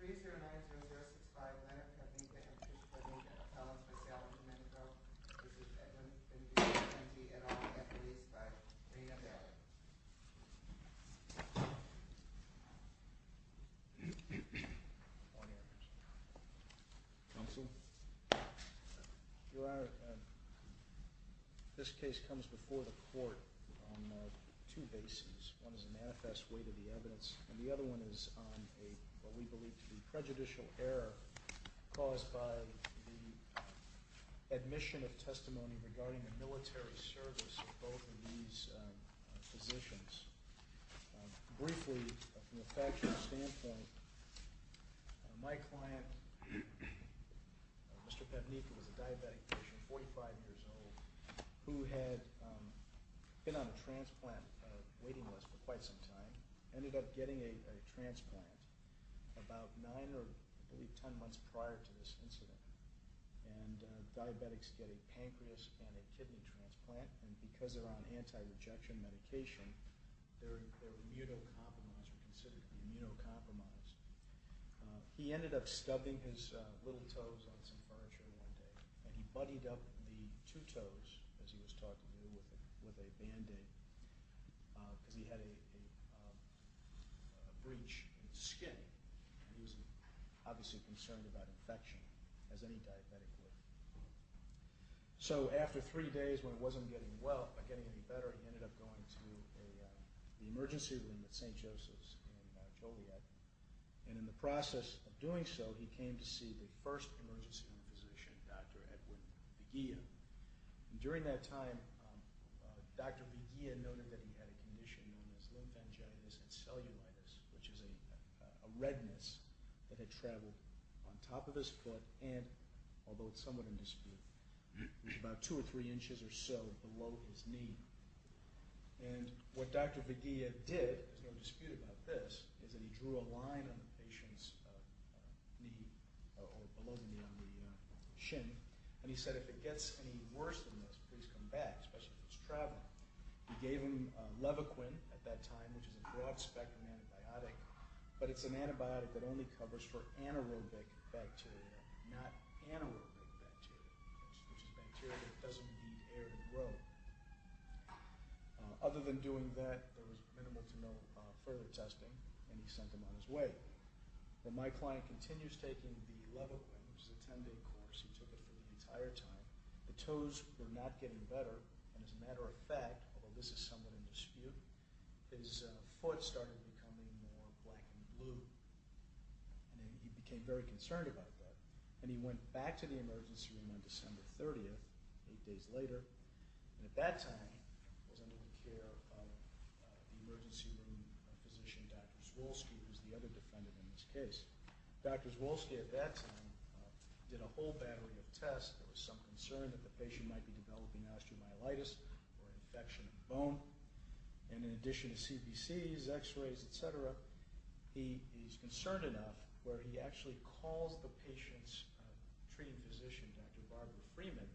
3-090-065 Leonard Pevnicka and Trish Pevnicka Appellants by Sally Domenico Visit by Edwin Vinicius, Kenji et al. and police by Dana Barrett Counsel Your Honor This case comes before the court on two bases One is a manifest weight of the evidence and the other one is on a what we believe to be prejudicial error caused by the admission of testimony regarding the military service of both of these physicians Briefly, from a factual standpoint my client Mr. Pevnicka was a diabetic patient 45 years old who had been on a transplant waiting list for quite some time ended up getting a transplant about 9 or 10 months prior to this incident and diabetics get a pancreas and a kidney transplant and because they're on anti-rejection medication they're immunocompromised or considered immunocompromised He ended up stubbing his little toes on some furniture one day and he buddied up the two toes as he was taught to do with a band-aid because he had a breach in his skin and he was obviously concerned about infection as any diabetic would So after three days when it wasn't getting any better he ended up going to the emergency room at St. Joseph's in Joliet and in the process of doing so he came to see the first emergency room physician, Dr. Edward Beguia and during that time Dr. Beguia noted that he had a condition known as lymphangitis and cellulitis which is a redness that had traveled on top of his foot and, although it's somewhat in dispute about 2 or 3 inches or so below his knee and what Dr. Beguia did, there's no dispute about this is that he drew a line on the patient's knee or below the knee on the shin and he said if it gets any worse than this, please come back especially if it's traveling He gave him Levaquin at that time which is a broad spectrum antibiotic but it's an antibiotic that only covers for anaerobic bacteria not anaerobic bacteria which is bacteria that doesn't need air to grow Other than doing that there was minimal to no further testing and he sent him on his way My client continues taking the Levaquin which is a 10 day course he took it for the entire time the toes were not getting better and as a matter of fact, although this is somewhat in dispute, his foot started becoming more black and blue and he became very concerned about that and he went back to the emergency room on December 30th, 8 days later and at that time was under the care of the emergency room physician Dr. Zwolski who's the other defendant in this case. Dr. Zwolski at that time did a whole battery of tests. There was some concern that the patient might be developing osteomyelitis or infection of the bone and in addition to CBCs, x-rays, etc. He's concerned enough where he actually calls the patient's treating physician, Dr. Barbara Freeman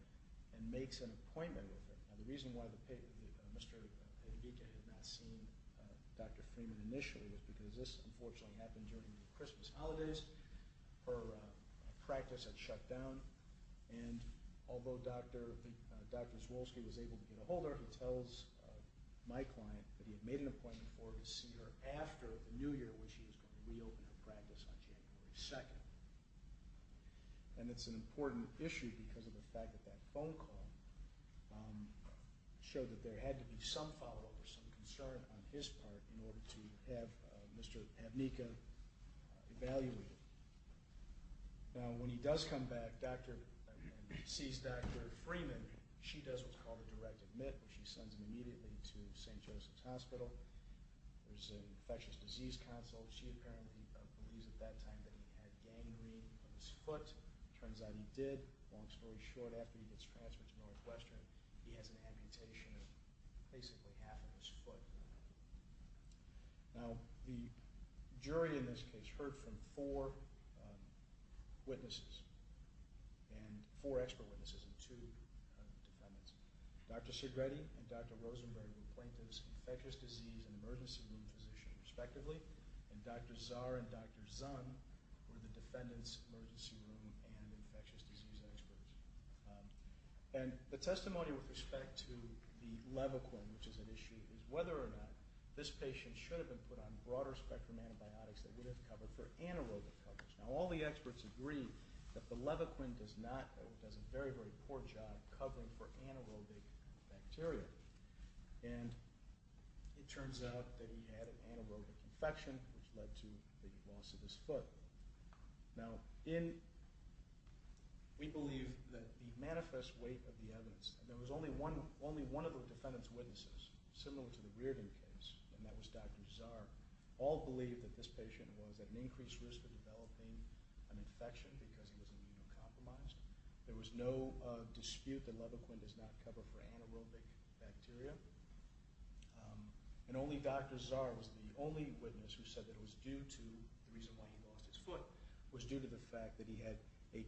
and makes an appointment with her. Now the reason why Mr. Hayabika had not seen Dr. Freeman initially was because this unfortunately happened during the Christmas holidays. Her practice had shut down and although Dr. Dr. Zwolski was able to get a hold of her he tells my client that he had made an appointment for her to see her after the New Year when she was going to reopen her practice on January 2nd and it's an important issue because of the fact that that phone call showed that there had to be some follow-up or some concern on his part in order to have Mr. Hayabika evaluated. Now when he does come back and sees Dr. Freeman she does what's called a direct admit where she sends him immediately to St. Joseph's Hospital. There's an infectious disease council. She apparently believes at that time that he had gangrene on his foot. Turns out he did. Long story short after he gets transferred to Northwestern he has an amputation of basically half of his foot. Now the jury in this case heard from four witnesses and four expert witnesses and two defendants. Dr. Sigretti and Dr. Rosenberg were plaintiff's infectious disease and emergency room physicians respectively and Dr. Zarr and Dr. Zunn were the defendant's emergency room and infectious disease experts. And the testimony with respect to the whether or not this patient should have been put on broader spectrum antibiotics that would have covered for anaerobic coverage. Now all the experts agree that the Levaquin does a very, very poor job covering for anaerobic bacteria. And it turns out that he had an anaerobic infection which led to the loss of his foot. Now in we believe that the manifest weight of the evidence and there was only one of the defendant's witnesses similar to the Reardon case and that was Dr. Zarr all believed that this patient was at an increased risk of developing an infection because he was immunocompromised. There was no dispute that Levaquin does not cover for anaerobic bacteria. And only Dr. Zarr was the only witness who said that it was due to the reason why he lost his foot was due to the fact that he had a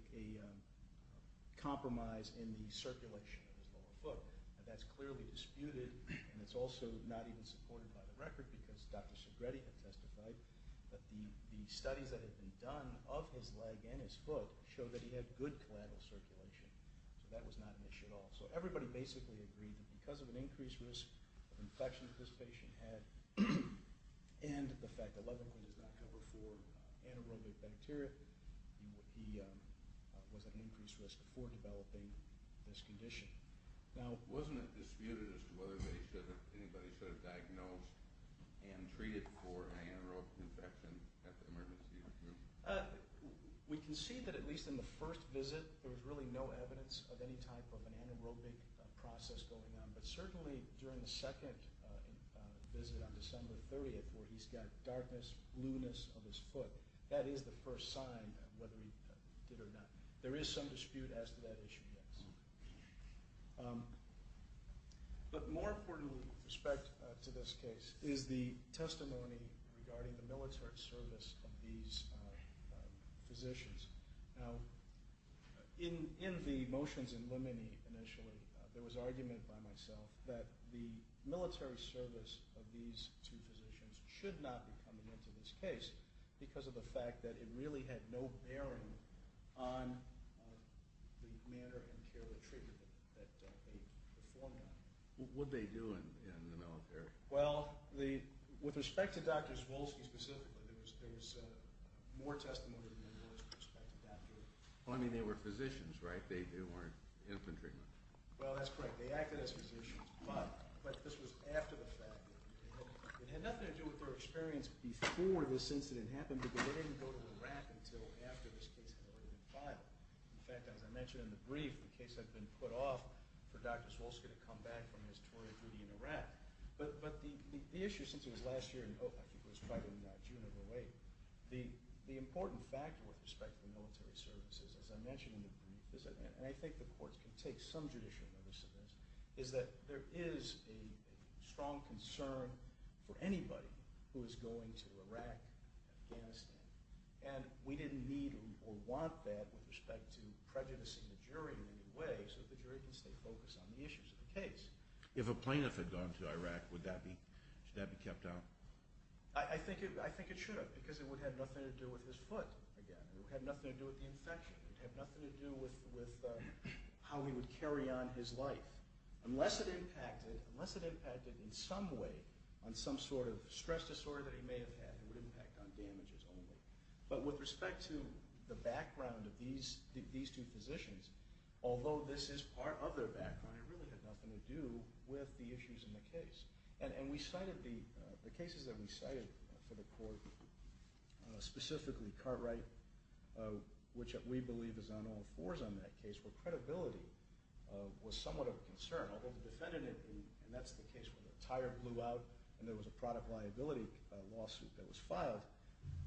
compromise in the circulation of his lower foot. Now that's clearly disputed and it's also not even supported by the record because Dr. Segretti had testified that the studies that had been done of his leg and his foot showed that he had good collateral circulation. So that was not an issue at all. So everybody basically agreed that because of an increased risk of infection that this patient had and the fact that Levaquin does not cover for anaerobic bacteria, he was at an increased risk for developing this condition. Wasn't it disputed as to whether anybody should have diagnosed and treated for an anaerobic infection at the emergency room? We can see that at least in the first visit there was really no evidence of any type of an anaerobic process going on. But certainly during the second visit on December 30th where he's got darkness blueness of his foot, that is the first sign whether he was at an increased risk. So there's no dispute as to that issue, yes. But more importantly with respect to this case is the testimony regarding the military service of these physicians. Now, in the motions in Limini initially there was argument by myself that the military service of these two physicians should not be coming into this case because of the fact that it really had no bearing on the manner and care of the treatment that they performed on him. What did they do in the military? Well, with respect to Dr. Zvolsky specifically, there was more testimony than there was respect to Dr. Zvolsky. They were physicians, right? They weren't infantrymen. Well, that's correct. They acted as physicians. But this was after the fact. It had nothing to do with their experience before this incident happened because they didn't go to Iraq until after this case had already been filed. In fact, as I mentioned in the brief, the case had been put off for Dr. Zvolsky to come back from his tour of duty in Iraq. But the issue since it was last year in Ohio, I think it was probably in June of 2008, the important factor with respect to the military service is, as I mentioned in the brief, and I think the courts can take some judicial notice of this, is that there is a strong concern for anybody who is going to Iraq, Afghanistan. And we didn't need or want that with respect to prejudicing the jury in any way so that the jury can stay focused on the issues of the case. If a plaintiff had gone to Iraq, would that be, should that be kept out? I think it should have because it would have nothing to do with his foot again. It would have nothing to do with the infection. It would have nothing to do with how he would carry on his life. Unless it impacted in some way on some sort of stress disorder that he may have had, it would impact on damages only. But with respect to the background of these two physicians, although this is part of their background, it really had nothing to do with the issues in the case. And we cited the cases that we cited for the court, specifically Cartwright, which we believe is on all fours on that case, where credibility was somewhat of a concern. Although the defendant admitted, and that's the case where the tire blew out and there was a product liability lawsuit that was filed,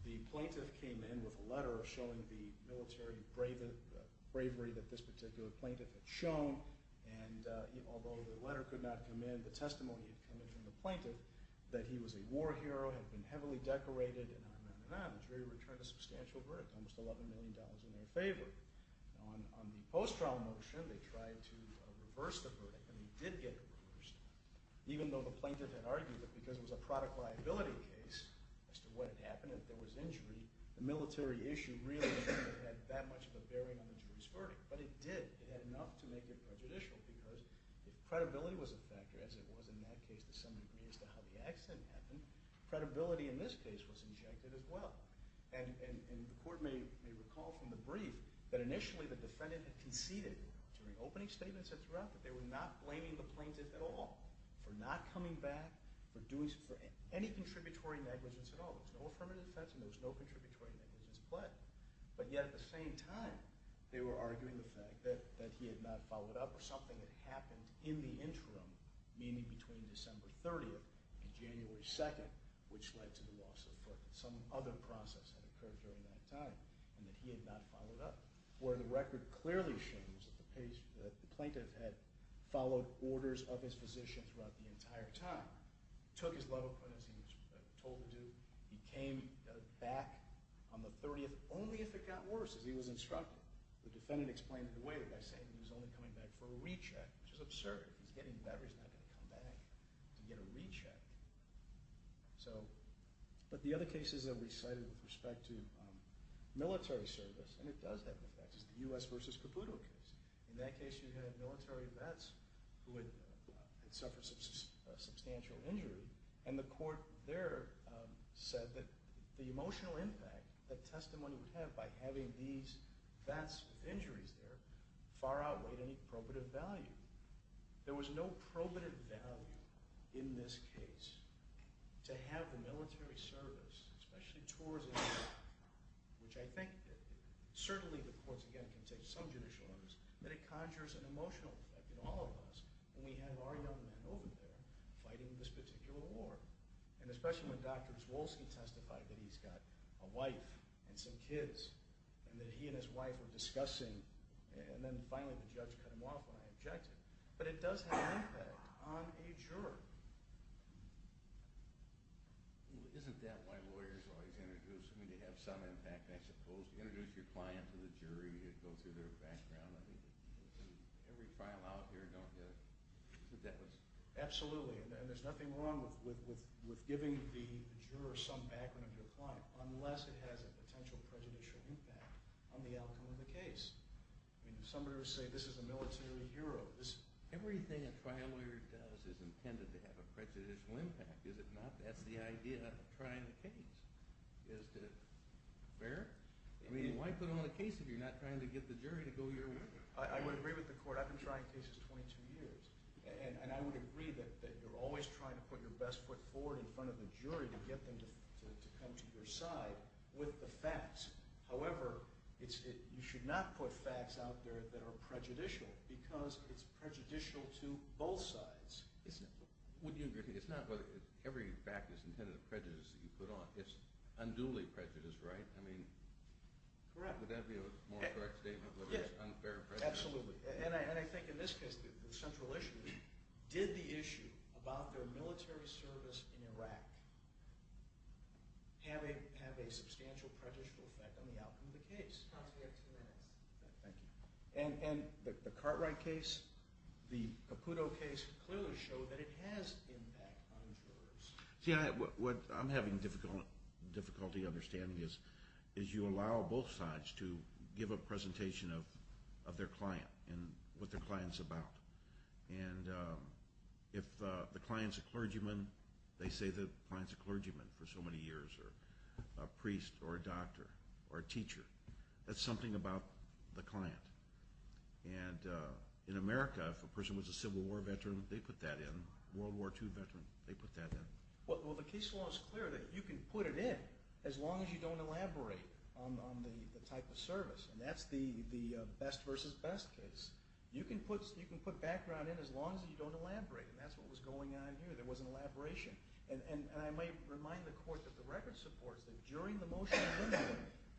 the plaintiff came in with a letter showing the military bravery that this particular plaintiff had shown. And although the letter could not come in, the testimony had come in from the plaintiff that he was a war hero, had been heavily decorated, and on and on and on. The jury returned a substantial verdict, almost $11 million in their favor. On the post-trial motion, they tried to get the verdict reversed, even though the plaintiff had argued that because it was a product liability case, as to what had happened, that there was injury, the military issue really had that much of a bearing on the jury's verdict. But it did. It had enough to make it prejudicial because if credibility was a factor, as it was in that case to some degree as to how the accident happened, credibility in this case was injected as well. And the court may recall from the brief that initially the defendant had conceded during the opening statement that they were not blaming the plaintiff at all for not coming back, for any contributory negligence at all. There was no affirmative defense and there was no contributory negligence pledged. But yet at the same time, they were arguing the fact that he had not followed up or something that happened in the interim, meaning between December 30th and January 2nd, which led to the loss of foot and some other process that occurred during that time, and that he had not followed up. Where the plaintiff had followed orders of his physician throughout the entire time. He took his love appointments and he was told to do. He came back on the 30th only if it got worse, as he was instructed. The defendant explained it away by saying he was only coming back for a recheck, which is absurd. If he's getting better, he's not going to come back to get a recheck. But the other cases that we cited with respect to military service, and it does have an effect, is the U.S. v. Caputo case. In that case you had military vets who had suffered substantial injury, and the court there said that the emotional impact that testimony would have by having these vets with injuries there far outweighed any probative value. There was no probative value in this case to have the military service, especially towards an attack, which I think certainly the courts, again, can take some judicial notice, that it conjures an emotional effect in all of us when we have our young men over there fighting this particular war. And especially when Dr. Zwolski testified that he's got a wife and some kids, and that he and his wife were discussing, and then finally the judge cut him off when I objected. But it does have an impact on a juror. Isn't that why lawyers always introduce me to have some impact, I suppose? You introduce your client to the jury, you go through their background. Every trial out here, don't you? Absolutely. And there's nothing wrong with giving the juror some background of your client, unless it has a potential prejudicial impact on the outcome of the case. If somebody were to say, this is a military hero, everything a trial lawyer does is intended to have a prejudicial impact. Is it not? That's the idea of trying the case. Is it fair? I mean, why put on a case if you're not trying to get the jury to go your way? I would agree with the court. I've been trying cases 22 years. And I would agree that you're always trying to put your best foot forward in front of the jury to get them to come to your side with the facts. However, you should not put facts out there that are prejudicial, because it's prejudicial to both sides. Wouldn't you agree? It's not whether every fact is intended to be prejudiced that you put on. It's unduly prejudiced, right? Correct. Would that be a more correct statement? Absolutely. And I think in this case, the central issue is, did the issue about their military service in Iraq have a substantial prejudicial effect on the outcome of the case? Counsel, you have two minutes. And the Cartwright case, the Caputo case, does it clearly show that it has impact on jurors? What I'm having difficulty understanding is, you allow both sides to give a presentation of their client and what their client's about. And if the client's a clergyman, they say the client's a clergyman for so many years, or a priest, or a doctor, or a teacher. That's something about the client. And in America, if a person was a Civil War veteran, they put that in. World War II veteran, they put that in. Well, the case law is clear that you can put it in, as long as you don't elaborate on the type of service. And that's the best versus best case. You can put background in as long as you don't elaborate. And that's what was going on here. There was an elaboration. And I may remind the Court that the record supports that during the motion,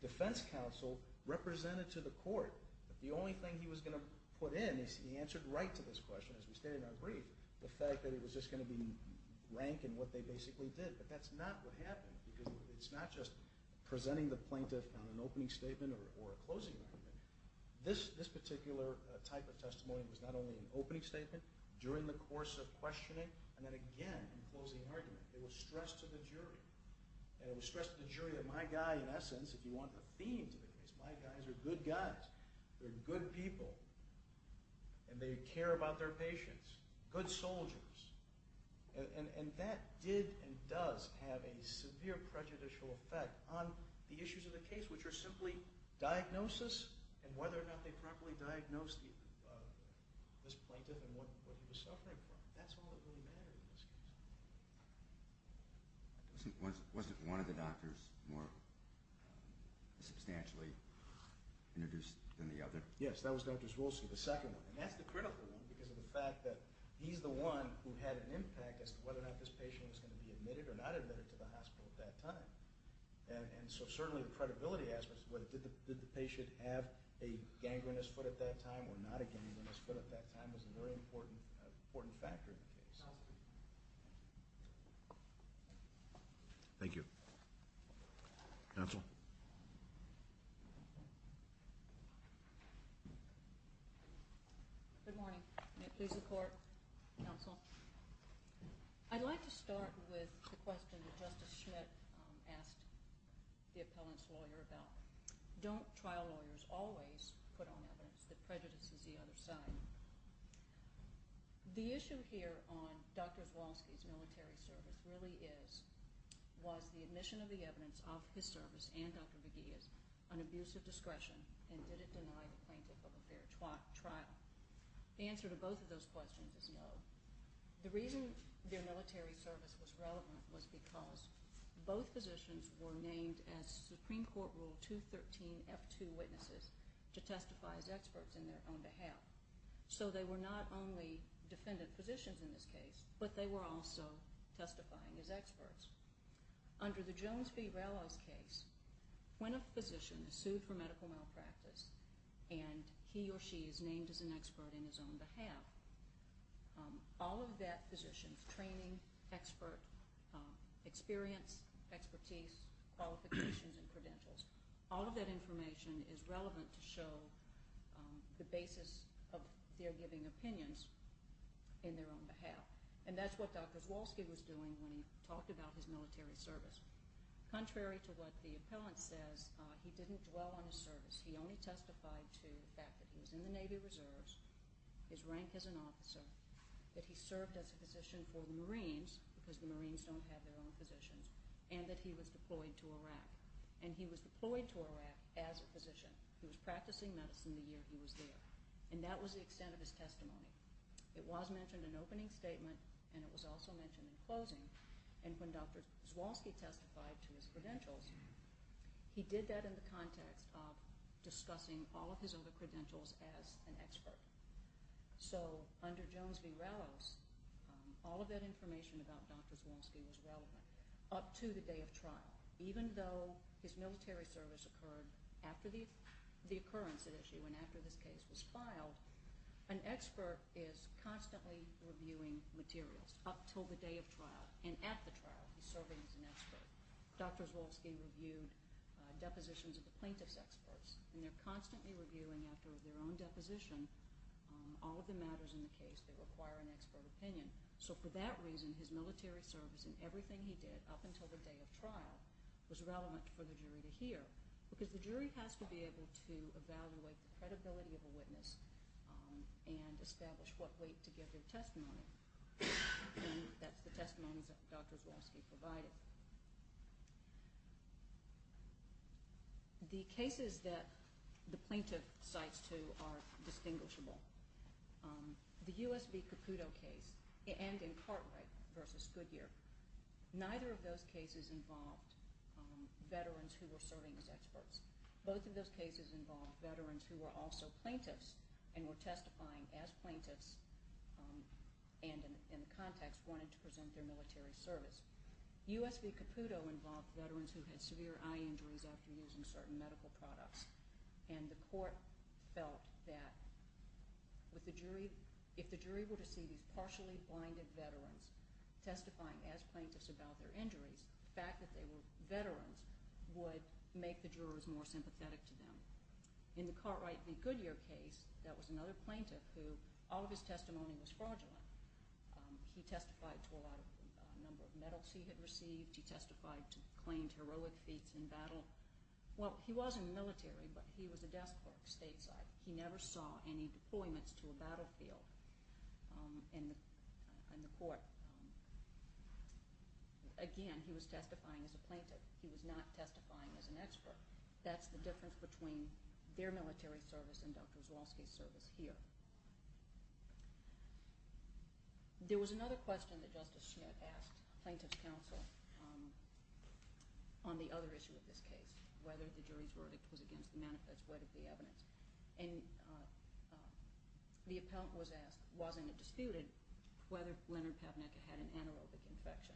defense counsel represented to the Court that the only thing he was going to put in is he answered right to this question, as we stated in our brief, the fact that it was just going to be rank in what they basically did. But that's not what happened. It's not just presenting the plaintiff on an opening statement or a closing argument. This particular type of testimony was not only an opening statement during the course of questioning, and then again in closing argument. It was stressed to the jury. And it was stressed to the jury that my guy, in essence, if you want a theme to the case, my guys are good guys. They're good people. And they care about their patients. Good soldiers. And that did and does have a severe prejudicial effect on the issues of the case, which are simply diagnosis and whether or not they properly diagnosed this plaintiff and what he was suffering from. That's all that really mattered in this case. Wasn't one of the doctors more substantially introduced than the other? Yes, that was Dr. Swolsey, the second one. And that's the critical one because of the fact that he's the one who had an impact as to whether or not this patient was going to be admitted or not admitted to the hospital at that time. And so certainly the credibility aspect, whether did the patient have a gangrenous foot at that time or not a gangrenous foot at that time was a very important factor in the case. Thank you. Thank you. Counsel? Good morning. May it please the Court? Counsel? I'd like to start with the question that Justice Schmidt asked the appellant's lawyer about. Don't trial lawyers always put on evidence that prejudice is the other side? The issue here on Dr. Swolsey's military service really is was the admission of the evidence of his service and Dr. Vigia's an abuse of discretion and did it deny the plaintiff of a fair trial? The answer to both of those questions is no. The reason their military service was relevant was because both physicians were named as Supreme Court Rule 213 F2 witnesses to testify as experts in their own behalf. So they were not only defendant physicians in this case, but they were also testifying as experts. Under the Jones v. Rallo's case, when a physician is sued for medical malpractice and he or she is named as an expert in his own behalf, all of that physician's training, expert experience, expertise, qualifications and credentials, all of that information is relevant to show the basis of their giving opinions in their own behalf. And that's what Dr. Swolsey was doing when he talked about his military service. Contrary to what the appellant says, he didn't dwell on his service. He only testified to the fact that he was in the Navy Reserves, his rank as an officer, that he served as a physician for the Marines, because the Marines don't have their own physicians, and that he was deployed to Iraq. And he was deployed to Iraq as a physician. He was practicing medicine the year he was there. And that was the extent of his testimony. It was mentioned in an opening statement, and it was also mentioned in closing. And when Dr. Swolsey testified to his credentials, he did that in the context of discussing all of his other credentials as an expert. So under Jones v. Rallo's, all of that information about Dr. Swolsey was relevant up to the day of trial. Even though his military service occurred after the occurrence at issue, and after this case was filed, an expert is constantly reviewing materials up to the day of trial, and at the trial he's serving as an expert. Dr. Swolsey reviewed depositions of the plaintiff's experts, and they're constantly reviewing after their own deposition all of the matters in the case that require an expert opinion. So for that reason, his military service and everything he did up until the day of trial was relevant for the jury to hear, because the jury has to be able to evaluate the credibility of a witness and establish what weight to give their testimony. And that's the testimonies that Dr. Swolsey provided. The cases that the plaintiff cites to are distinguishable. The U.S. v. Caputo case and in Cartwright v. Goodyear, neither of those cases involved veterans who were serving as experts. Both of those cases involved veterans who were also plaintiffs and were testifying as plaintiffs and in the context wanted to present their military service. U.S. v. Caputo involved veterans who had severe eye injuries after using certain medical products, and the court felt that if the jury were to see these partially blinded veterans testifying as plaintiffs about their injuries, the fact that they were veterans would make the jurors more sympathetic to them. In the Cartwright v. Goodyear case, that was another plaintiff who all of his testimony was fraudulent. He testified to a number of medals he had received. He testified to claimed heroic feats in battle. Well, he wasn't in the military, but he was a desk clerk stateside. He never saw any deployments to a battlefield in the court. Again, he was testifying as a plaintiff. He was not testifying as an expert. That's the difference between their military service and Dr. Zawalski's service here. There was another question that Justice Schmitt asked plaintiff's counsel on the other issue of this case, whether the jury's verdict was against the manifest, whether it be evidence. And the appellant was asked, wasn't it disputed, whether Leonard Pabneka had an anaerobic infection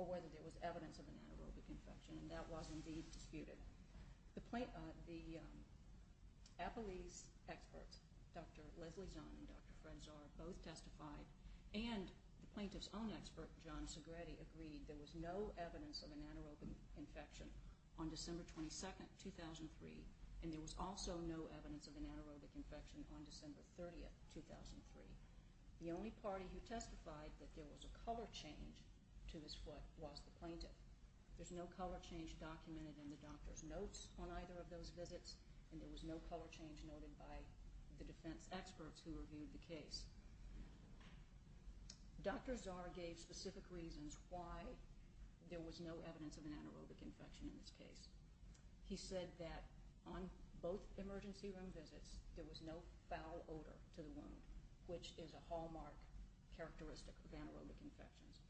or whether there was evidence of an anaerobic infection, and that was indeed disputed. The appellee's experts, Dr. Leslie Zahn and Dr. Fred Zahr, both testified and the plaintiff's own expert, John Segretti, agreed there was no evidence of an anaerobic infection on December 22, 2003, and there was also no evidence of an anaerobic infection on December 30, 2003. The only party who testified that there was a color change to his foot was the plaintiff. There's no color change documented in the doctor's notes on either of those visits, and there was no color change noted by the defense experts who reviewed the case. Dr. Zahr gave specific reasons why there was no evidence of an anaerobic infection in this case. He said that on both emergency room visits there was no foul odor to the wound, which is a hallmark characteristic of anaerobic infections.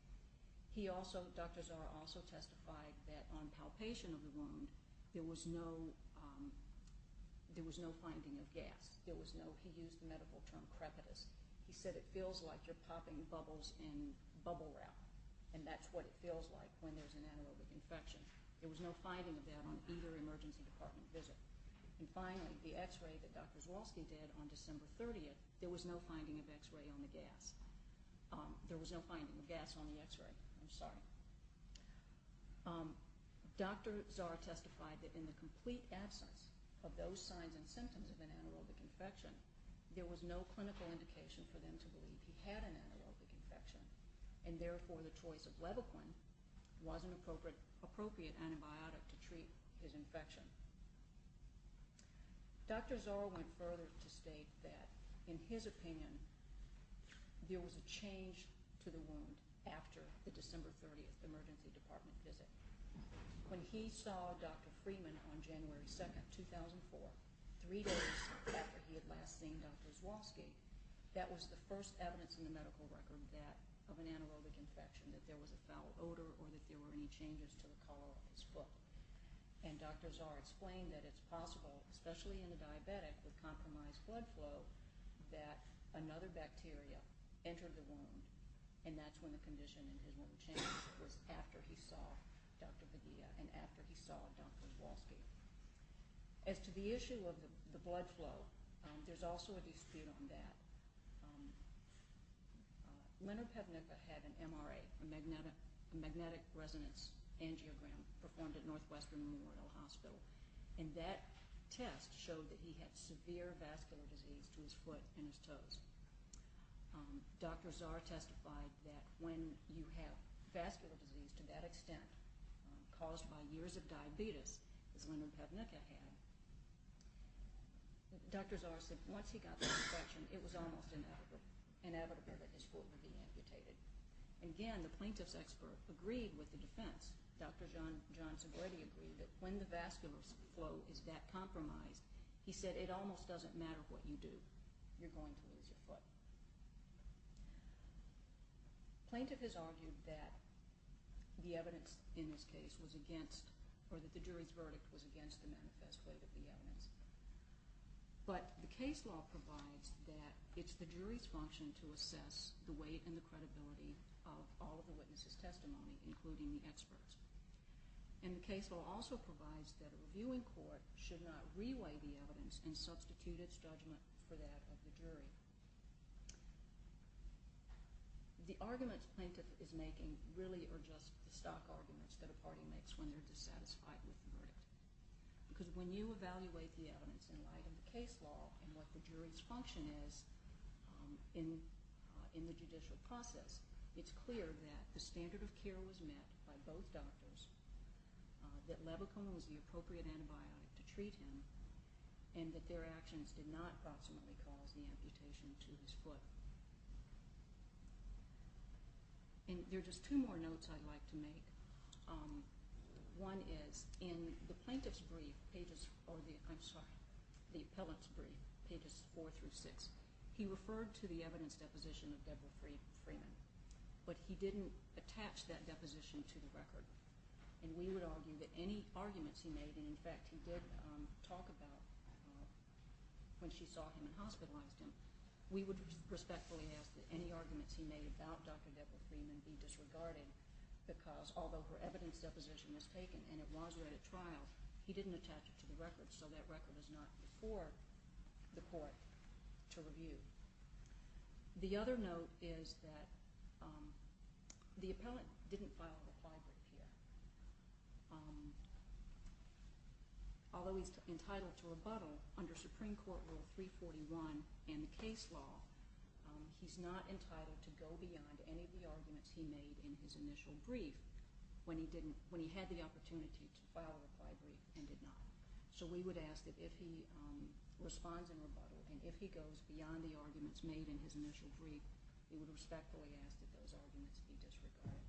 Dr. Zahr also testified that on palpation of the wound there was no finding of gas. He used the medical term crepitus. He said it feels like you're popping bubbles in bubble wrap, and that's what it feels like when there's an anaerobic infection. There was no finding of that on either emergency department visit. And finally, the x-ray that Dr. Zwolski did on December 30, there was no finding of x-ray on the gas. There was no finding of gas on the x-ray. I'm sorry. Dr. Zahr testified that in the complete absence of those signs and symptoms of an anaerobic infection, there was no clinical indication for them to believe he had an anaerobic infection, and therefore the choice of appropriate antibiotic to treat his infection. Dr. Zahr went further to state that in his opinion, there was a change to the wound after the December 30 emergency department visit. When he saw Dr. Freeman on January 2, 2004, three days after he had last seen Dr. Zwolski, that was the first evidence in the medical record that of an anaerobic infection, that there was a recall of his foot. And Dr. Zahr explained that it's possible, especially in a diabetic with compromised blood flow, that another bacteria entered the wound, and that's when the condition in his wound changed. It was after he saw Dr. Padilla, and after he saw Dr. Zwolski. As to the issue of the blood flow, there's also a dispute on that. Leonard Pevnica had an MRA, a magnetic resonance angiogram, performed at Northwestern Memorial Hospital. And that test showed that he had severe vascular disease to his foot and his toes. Dr. Zahr testified that when you have vascular disease to that extent, caused by years of diabetes, as Leonard Pevnica had, Dr. Zahr said once he got the infection, it was almost inevitable that his foot would be amputated. Again, the plaintiff's expert agreed with the defense. Dr. John Sobretti agreed that when the vascular flow is that compromised, he said it almost doesn't matter what you do. You're going to lose your foot. Plaintiff has argued that the evidence in this case was against, or that the jury's verdict was against the manifesto of the evidence. But the case law provides that it's the jury's function to assess the weight and the credibility of all of the witnesses' testimony, including the experts. And the case law also provides that a reviewing court should not re-weigh the evidence and substitute its judgment for that of the jury. The arguments plaintiff is making really are just the stock arguments that a party makes when they're dissatisfied with the verdict. Because when you evaluate the evidence in light of the case law and what the jury's function is in the judicial process, it's clear that the standard of care was met by both doctors, that labacone was the appropriate antibiotic to treat him, and that their actions did not approximately cause the amputation to his foot. There are just two more notes I'd like to make. One is in the plaintiff's brief, I'm sorry, the appellant's brief, pages four through six, he referred to the evidence deposition of Deborah Freeman, but he didn't attach that deposition to the record. And we would argue that any arguments he made, and in fact he did talk about when she saw him and hospitalized him, we would respectfully ask that any arguments he made about Dr. Deborah Freeman be disregarded because although her evidence deposition was taken and it was read at trial, he didn't attach it to the record, so that record is not before the court to review. The other note is that the appellant didn't file a reply brief here. Although he's entitled to rebuttal, under Supreme Court Rule 341 and the case law, he's not entitled to go beyond any of the arguments he made in his initial brief when he had the opportunity to file a reply brief and did not. So we would ask that if he responds in rebuttal and if he goes beyond the arguments made in his initial brief, we would respectfully ask that those arguments be disregarded.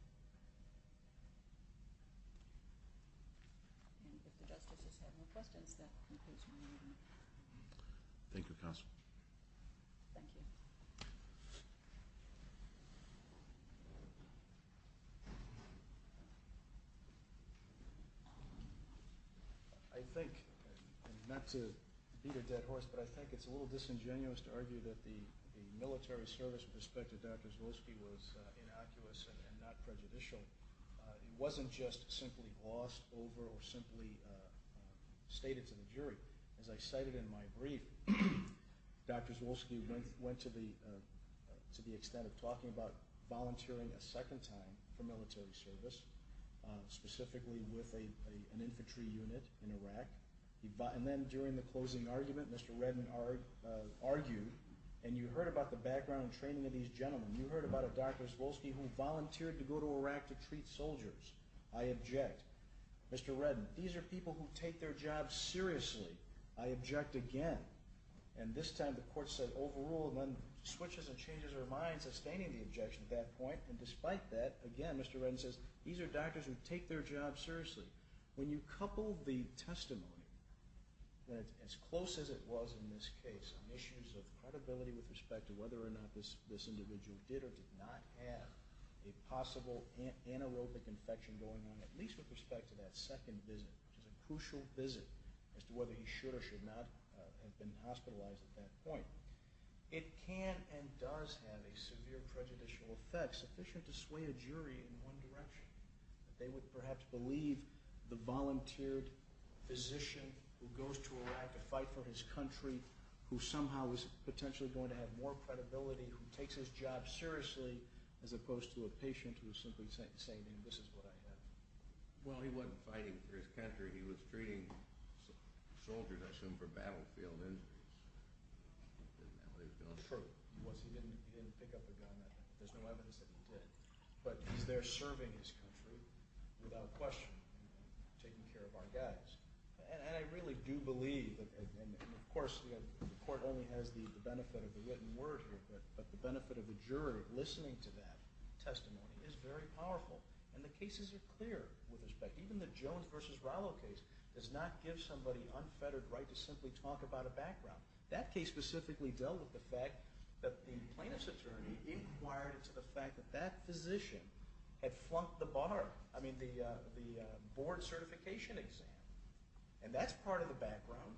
And if the justices have no questions, that concludes my movement. Thank you, Counsel. Thank you. I think, not to beat a dead horse, but I think it's a little disingenuous to argue that the military service perspective Dr. Zwolski was innocuous and not prejudicial. It wasn't just simply glossed over or simply stated to the jury. As I cited in my brief, Dr. Zwolski went to the extent of talking about volunteering a second time for military service, specifically with an infantry unit in Iraq. And then during the closing argument, Mr. Redman argued, and you heard about the background and training of these gentlemen. You heard about a Dr. Zwolski who volunteered to go to Iraq to treat soldiers. I object. Mr. Redman, these are people who take their job seriously. I object again. And this time the court said overrule, and then switches and changes her mind, sustaining the objection at that point. And despite that, again, Mr. Redman says, these are doctors who take their job seriously. When you couple the testimony as close as it was in this case on issues of credibility with respect to whether or not this individual did or did not have a possible anaerobic infection going on, at least with respect to that second visit, which is a crucial visit as to whether he should or should not have been hospitalized at that point, it can and does have a severe prejudicial effect sufficient to sway a jury in one direction. They would perhaps believe the volunteered physician who goes to Iraq to fight for his country, who somehow is potentially going to have more credibility, who takes his job seriously, as opposed to a patient who is simply saying, this is what I have. Well, he wasn't fighting for his country. He was treating soldiers, I assume, for battlefield injuries. True. He didn't pick up a gun. There's no evidence that he did. But he's there serving his country without question, taking care of our guys. And I really do believe, and of course the court only has the benefit of the written word here, but the benefit of the jury listening to that testimony is very powerful. And the cases are clear with respect. Even the Jones v. Rallo case does not give somebody unfettered right to simply talk about a background. That case specifically dealt with the fact that the plaintiff's attorney inquired into the fact that that physician had flunked the board certification exam. And that's part of the background.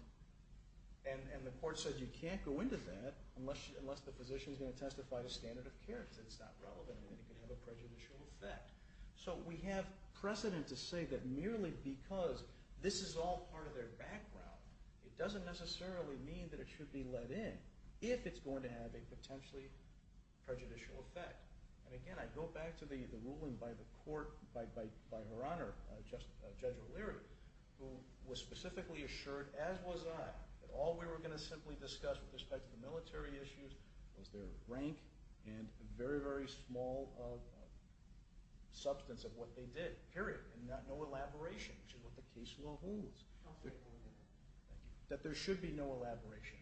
And the court said you can't go into that unless the physician is going to testify to standard of care, because it's not relevant and it can have a prejudicial effect. So we have precedent to say that merely because this is all part of their background, it doesn't necessarily mean that it should be let in if it's going to have a potentially prejudicial effect. And again, I go back to the ruling by the court, by Her Honor, Judge O'Leary, who was specifically assured, as was I, that all we were going to simply discuss with respect to the military issues was their rank and very, very small substance of what they did, period. No elaboration, which is what the case law holds. That there should be no elaboration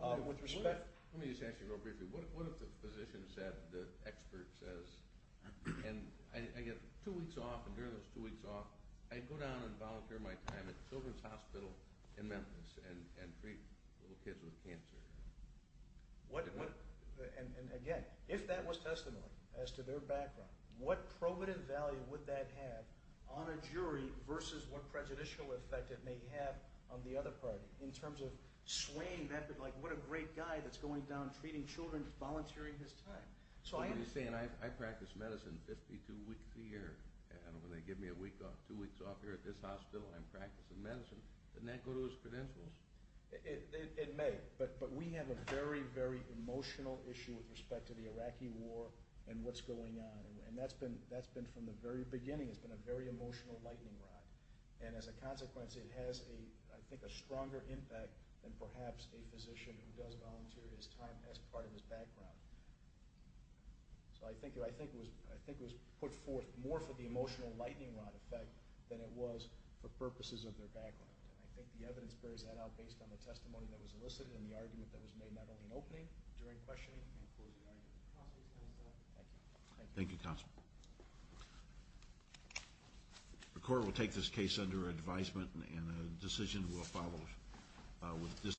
on that point. Let me just ask you real briefly, what if the physician said, the expert says, and I get two weeks off, and during those two weeks off, I go down and volunteer my time at Children's Hospital in Memphis and treat little kids with cancer. And again, if that was testimony as to their background, what value would that have on a jury versus what prejudicial effect it may have on the other party, in terms of swaying that, like, what a great guy that's going down, treating children, volunteering his time. He's saying, I practice medicine 52 weeks a year, and when they give me two weeks off here at this hospital, I'm practicing medicine. Doesn't that go to his credentials? It may, but we have a very, very emotional issue with respect to the Iraqi war and what's going on. And that's been from the very beginning. And as a consequence, it has, I think, a stronger impact than perhaps a physician who does volunteer his time as part of his background. So I think it was put forth more for the emotional lightning rod effect than it was for purposes of their background. And I think the evidence bears that out based on the testimony that was elicited and the argument that was made, not only in opening, during questioning, but in closing argument. Thank you. The court will take this case under advisement and a decision will follow.